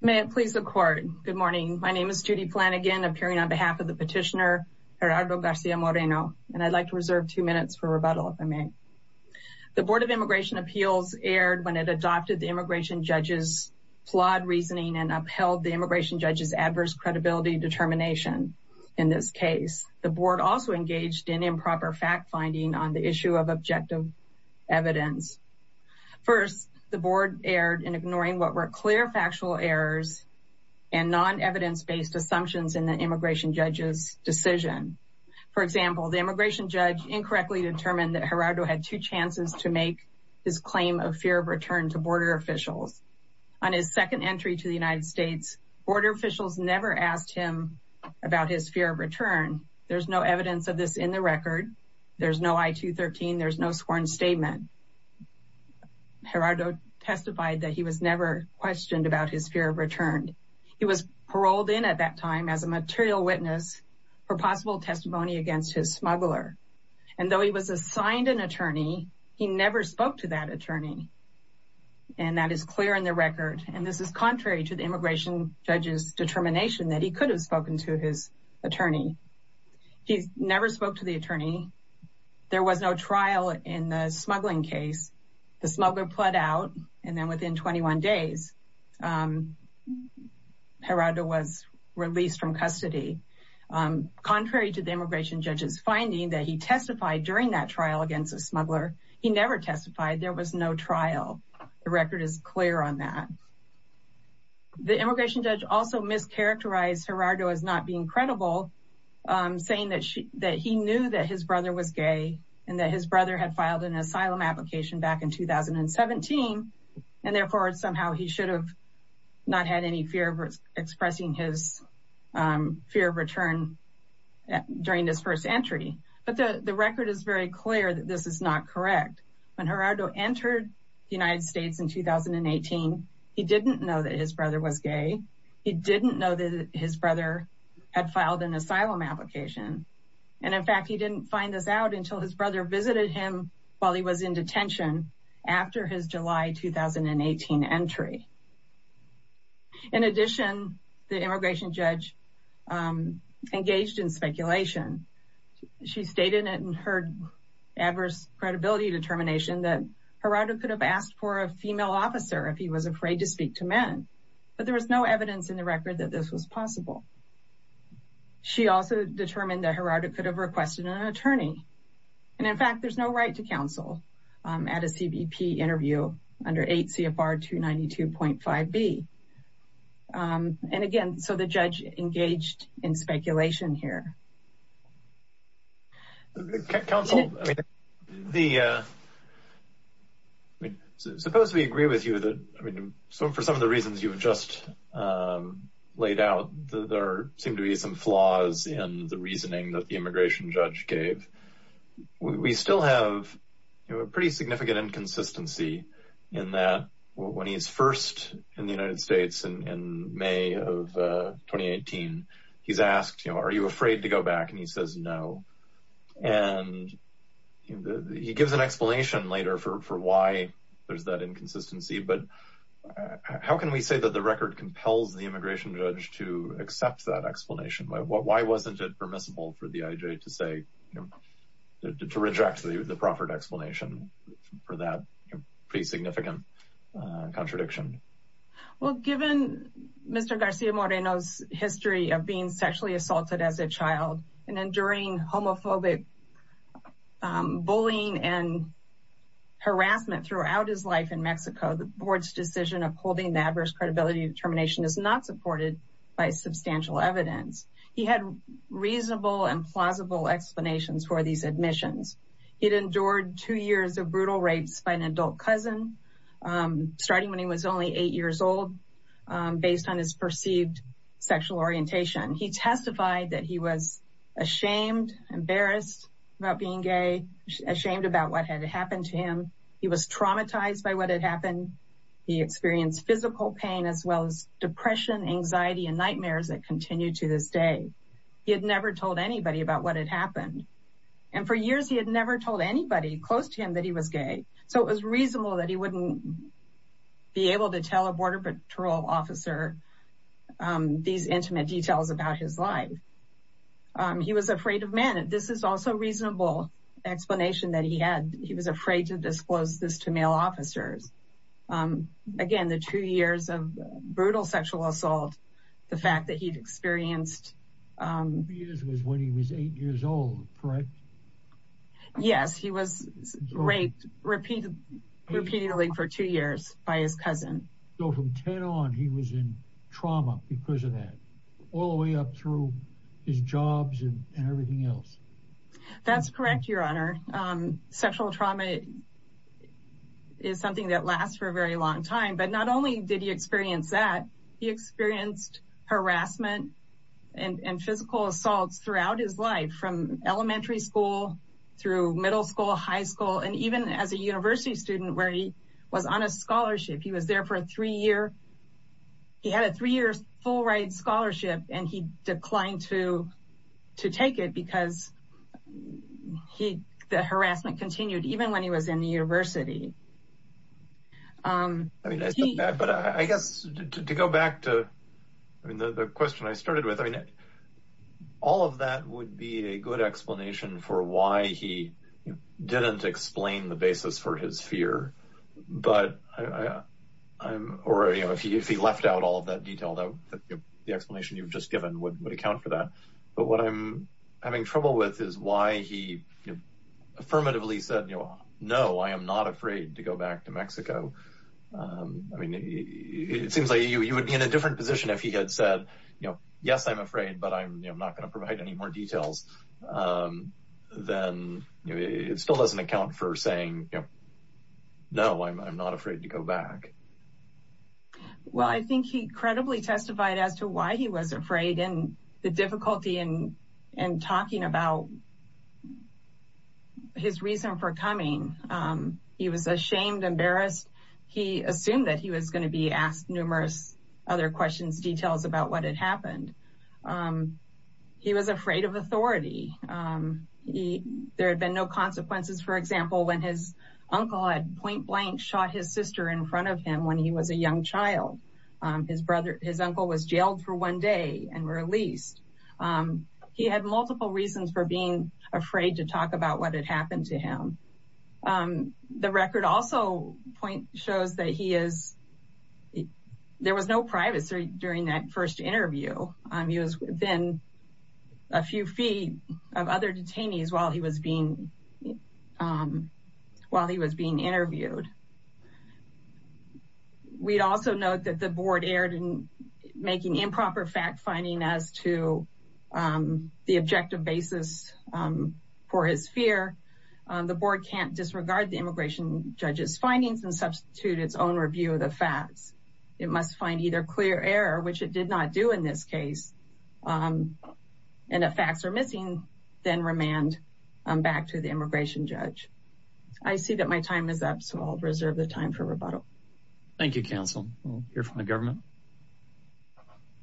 May it please the court. Good morning. My name is Judy Flanagan appearing on behalf of the petitioner Gerardo Garcia Moreno and I'd like to reserve two minutes for rebuttal if I may. The Board of Immigration Appeals erred when it adopted the immigration judge's flawed reasoning and upheld the immigration judge's adverse credibility determination. In this case, the board also engaged in improper fact-finding on the issue of objective evidence. First, the board erred in ignoring what were clear factual errors and non-evidence-based assumptions in the immigration judge's decision. For example, the immigration judge incorrectly determined that Gerardo had two chances to make his claim of fear of return to border officials. On his second entry to the United States, border officials never asked him about his fear of return. There's no evidence of this in the record. There's no I-213. There's no sworn statement. Gerardo testified that he was never questioned about his fear of return. He was paroled in at that time as a material witness for possible testimony against his smuggler and though he was assigned an attorney, he never spoke to that attorney and that is clear in the record and this is contrary to the immigration judge's There was no trial in the smuggling case. The smuggler pled out and then within 21 days, Gerardo was released from custody. Contrary to the immigration judge's finding that he testified during that trial against a smuggler, he never testified. There was no trial. The record is clear on that. The immigration judge also mischaracterized Gerardo as not being credible saying that he knew that his brother was gay and that his brother had filed an asylum application back in 2017 and therefore somehow he should have not had any fear of expressing his fear of return during his first entry but the record is very clear that this is not correct. When Gerardo entered the United States in 2018, he didn't know that his brother was gay. He didn't know that his application and in fact, he didn't find this out until his brother visited him while he was in detention after his July 2018 entry. In addition, the immigration judge engaged in speculation. She stated in her adverse credibility determination that Gerardo could have asked for a female officer if he was afraid to speak to men but there was no evidence in the record that this was also determined that Gerardo could have requested an attorney and in fact, there's no right to counsel at a CBP interview under 8 CFR 292.5b and again, so the judge engaged in speculation here. Suppose we agree with you that, I mean, for some of the reasons you've just laid out, there seem to be some flaws in the reasoning that the immigration judge gave. We still have, you know, a pretty significant inconsistency in that when he's first in the United States in May of 2018, he's asked, you know, are you afraid to go back and he says no and he gives an explanation later for why there's that inconsistency but how can we say that the record compels the immigration judge to accept that explanation? Why wasn't it permissible for the IJ to say, you know, to reject the proffered explanation for that pretty significant contradiction? Well, given Mr. Garcia Moreno's history of being sexually assaulted as a child and enduring homophobic bullying and harassment throughout his life in Mexico, the board's decision of holding the adverse credibility determination is not supported by substantial evidence. He had reasonable and plausible explanations for these admissions. He'd endured two years of brutal rapes by an adult cousin starting when he was only eight years old based on his perceived sexual orientation. He testified that he was ashamed, embarrassed about being gay, ashamed about what had happened to him. He was traumatized by what had happened. He experienced physical pain as well as depression, anxiety, and nightmares that continue to this day. He had never told anybody about what had happened and for years he had never told anybody close to him that he was gay so it was reasonable that he wouldn't be able to tell a border patrol officer these intimate details about his life. He was afraid of men. This is also a reasonable explanation that he had. He was afraid to expose this to male officers. Again, the two years of brutal sexual assault, the fact that he'd experienced. He was eight years old, correct? Yes, he was raped repeatedly for two years by his cousin. So from ten on he was in trauma because of that all the way up through his jobs and everything else. That's correct, your honor. Sexual trauma is something that lasts for a very long time but not only did he experience that, he experienced harassment and physical assaults throughout his life from elementary school through middle school, high school, and even as a university student where he was on a scholarship. He was there for three years. He had a three-year full-ride scholarship and he declined to take it because the harassment continued even when he was in the university. But I guess to go back to the question I started with, all of that would be a good explanation for he didn't explain the basis for his fear. If he left out all of that detail, the explanation you've just given would account for that. But what I'm having trouble with is why he affirmatively said, no, I am not afraid to go back to Mexico. It seems like you would be in a different position if he had said, yes, I'm afraid but I'm not going to provide any more details. Then it still doesn't account for saying, no, I'm not afraid to go back. Well, I think he credibly testified as to why he was afraid and the difficulty in talking about his reason for coming. He was ashamed, embarrassed. He assumed that he was going to be asked numerous other questions, details about what had happened. He was afraid of authority. There had been no consequences, for example, when his uncle had point blank shot his sister in front of him when he was a young child. His uncle was jailed for one day and released. He had multiple reasons for being afraid to talk about what had happened to him. The record also shows that there was no privacy during that first interview. He was within a few feet of other detainees while he was being interviewed. We'd also note that the board erred in making improper fact-finding as to the objective basis for his fear. The board can't disregard the immigration judge's findings and substitute its own review of the facts. It must find either clear error, which it did not do in this case, and if facts are missing, then remand back to the immigration judge. I see that my time is up, so I'll reserve the time for rebuttal. Thank you, counsel. We'll hear from the government.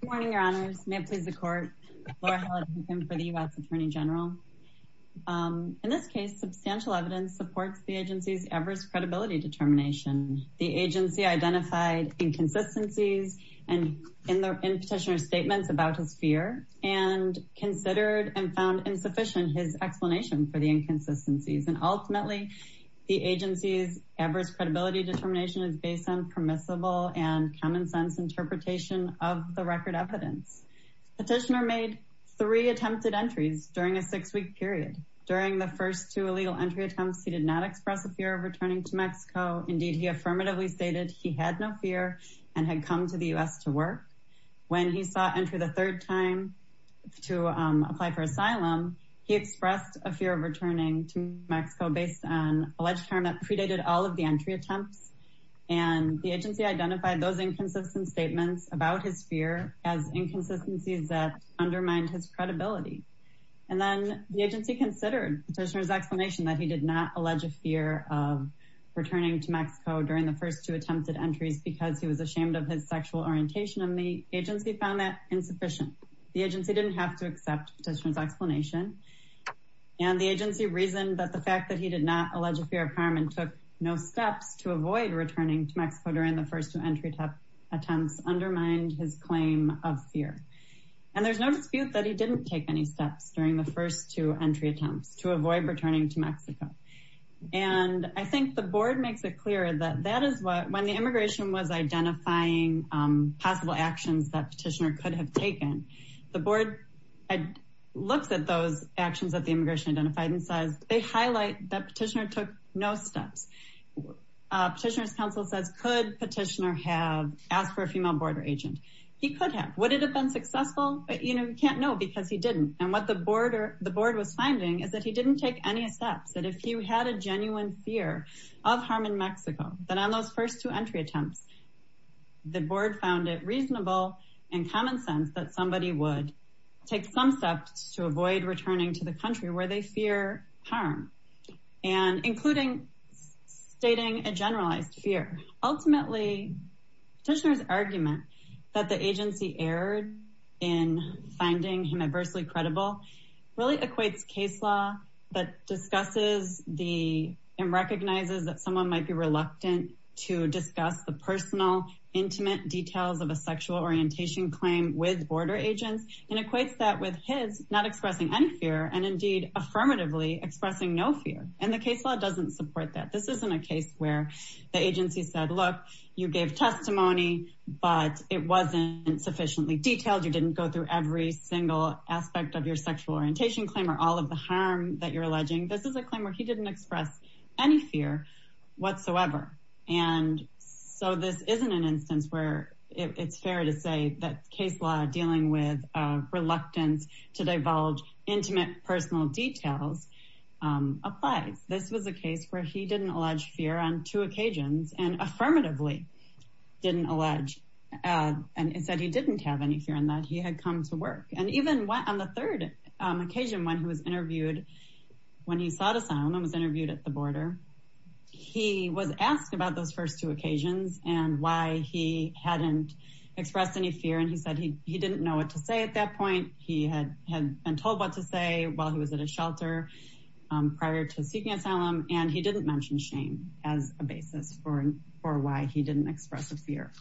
Good morning, your honors. May it please the court. Laura Halladay for the U.S. Attorney General. In this case, substantial evidence supports the agency's adverse credibility determination. The agency identified inconsistencies in the petitioner's statements about his fear and considered and found insufficient his explanation for the inconsistencies. Ultimately, the agency's adverse credibility determination is based on permissible and common-sense interpretation of the record evidence. The petitioner made three attempted entries during a six-week period. During the first two illegal entry attempts, he did not express a fear of returning to Mexico. Indeed, he affirmatively stated he had no fear and had come to the U.S. to work. When he sought entry the third time to apply for asylum, he expressed a fear of returning to Mexico based on alleged harm that predated all of the entry attempts, and the agency identified those inconsistent statements about his fear as inconsistencies that undermined his credibility. And then the agency considered the petitioner's explanation that he did not allege a fear of returning to Mexico during the first two attempted entries because he was ashamed of his sexual orientation, and the agency found that insufficient. The agency didn't have to accept the petitioner's explanation, and the agency reasoned that the fact that he did not allege a fear of harm and took no steps to avoid returning to Mexico during the first two entry attempts undermined his claim of fear. And there's no dispute that he didn't take any steps during the first two entry attempts to avoid returning to Mexico. And I think the board makes it clear that that is what, when the immigration was identifying possible actions that petitioner could have taken, the board looks at those actions that the immigration identified and says, they highlight that petitioner took no steps. Petitioner's counsel says, could petitioner have asked for a female border agent? He could have. Would it have been successful? You know, you can't know because he didn't. And what the board was finding is that he didn't take any steps, that if you had a genuine fear of harm in Mexico, that on those first two entry attempts, the board found it reasonable and common sense that somebody would take some steps to avoid returning to the country where they fear harm and including stating a generalized fear. Ultimately, petitioner's argument that the agency erred in finding him adversely credible really equates case law that discusses the and recognizes that someone might be reluctant to discuss the personal intimate details of a sexual orientation claim with border agents and equates that with his not expressing any fear and indeed affirmatively expressing no fear. And the case law doesn't support that. This isn't a case where the agency said, look, you gave testimony, but it wasn't sufficiently detailed. You didn't go through every single aspect of your sexual orientation claim or all of the harm that you're alleging. This is a claim where he didn't express any fear whatsoever. And so this isn't an instance where it's fair to say that case law dealing with reluctance to divulge intimate personal details applies. This was a case where he didn't allege fear on two occasions and affirmatively didn't allege and said he didn't have any fear in that he had come to work. And even on the third occasion, when he was interviewed, when he saw the sound and was interviewed at the border, he was asked about those first two occasions and why he hadn't expressed any fear. And he said he didn't know what to say at that point. He had been told what to say while he was at a shelter prior to seeking asylum. And he didn't mention shame as a basis for why he didn't express a fear.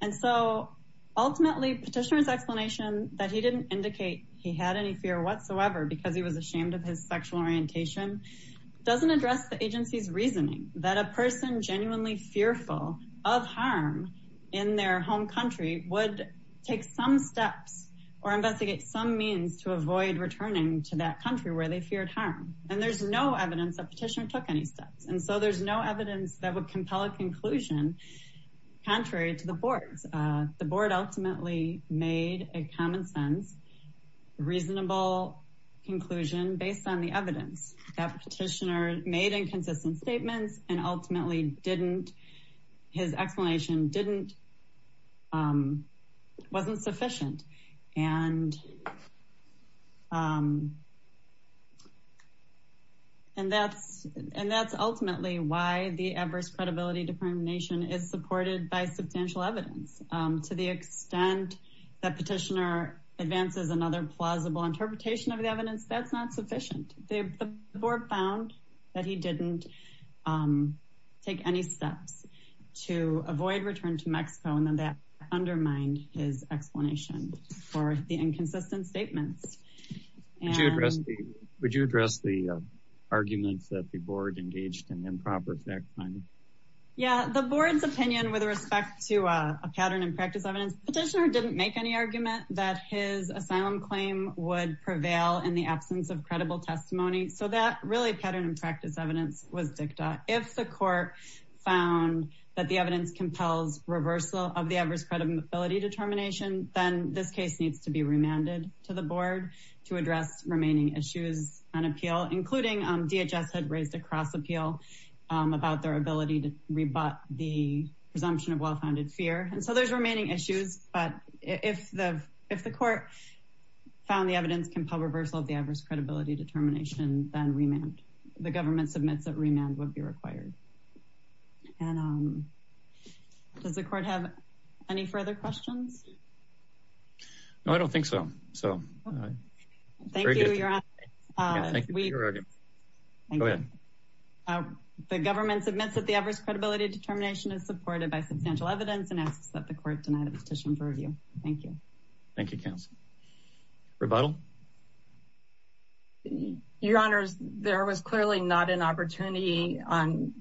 And so ultimately petitioner's explanation that he didn't indicate he had any fear whatsoever because he was ashamed of his sexual orientation doesn't address the take some steps or investigate some means to avoid returning to that country where they feared harm. And there's no evidence that petitioner took any steps. And so there's no evidence that would compel a conclusion contrary to the board's. The board ultimately made a common sense, reasonable conclusion based on the evidence that petitioner made inconsistent statements and ultimately didn't. His explanation wasn't sufficient. And that's ultimately why the adverse credibility determination is supported by substantial evidence. To the extent that petitioner advances another plausible interpretation of the evidence, that's not sufficient. The board found that he didn't take any steps to avoid return to Mexico. And then that undermined his explanation for the inconsistent statements. Would you address the arguments that the board engaged in improper fact finding? Yeah, the board's opinion with respect to a pattern and practice evidence petitioner didn't make any argument that his asylum claim would prevail in the absence of credible testimony. So that really pattern and practice evidence was dicta. If the court found that the evidence compels reversal of the adverse credibility determination, then this case needs to be remanded to the board to address remaining issues on appeal, including DHS had raised a cross appeal about their ability to rebut the presumption of well-founded fear. And so there's remaining issues, but if the if the court found the evidence compel reversal of the adverse credibility determination, then remand the government submits that remand would be required. And does the court have any further questions? No, I don't think so. So thank you. The government submits that the adverse credibility determination is supported by substantial evidence and asks that the court deny the petition for review. Thank you. Thank you, counsel. Rebuttal. Your honors, there was clearly not an opportunity on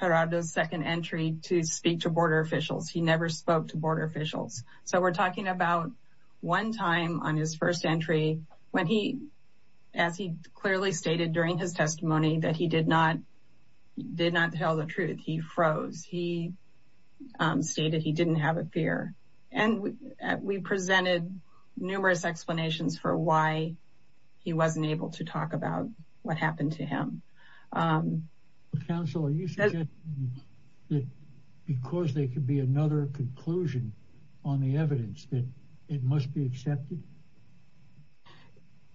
Herardo's second entry to speak to border officials. He never spoke to border officials. So we're talking about one time on his first entry when he as he clearly stated during his testimony that he did not did not tell the truth. He froze. He stated he didn't have a fear. And we presented numerous explanations for why he wasn't able to talk about what happened to him. Counsel, you said that because there could be another conclusion on the evidence that it must be accepted.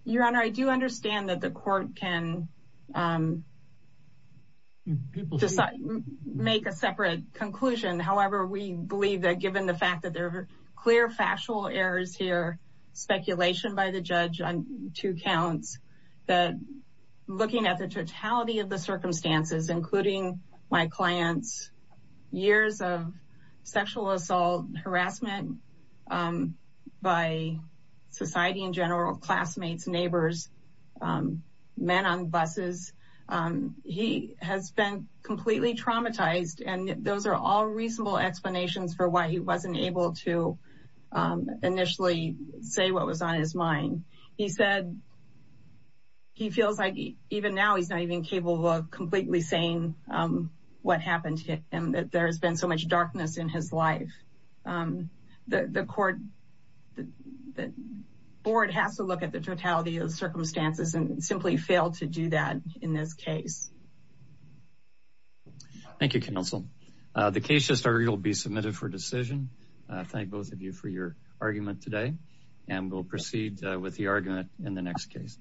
Your honor, I do understand that the court can make a separate conclusion. However, we believe that given the fact that there are clear factual errors here, speculation by the judge on two counts, that looking at the totality of the circumstances, including my clients, years of sexual assault, harassment by society in classmates, neighbors, men on buses, he has been completely traumatized. And those are all reasonable explanations for why he wasn't able to initially say what was on his mind. He said he feels like even now he's not even capable of completely saying what happened to him, that there has been so much darkness in his life. The court, the board has to look at the totality of the circumstances and simply fail to do that in this case. Thank you, counsel. The case will be submitted for decision. Thank both of you for your argument today and we'll proceed with the argument in the next case.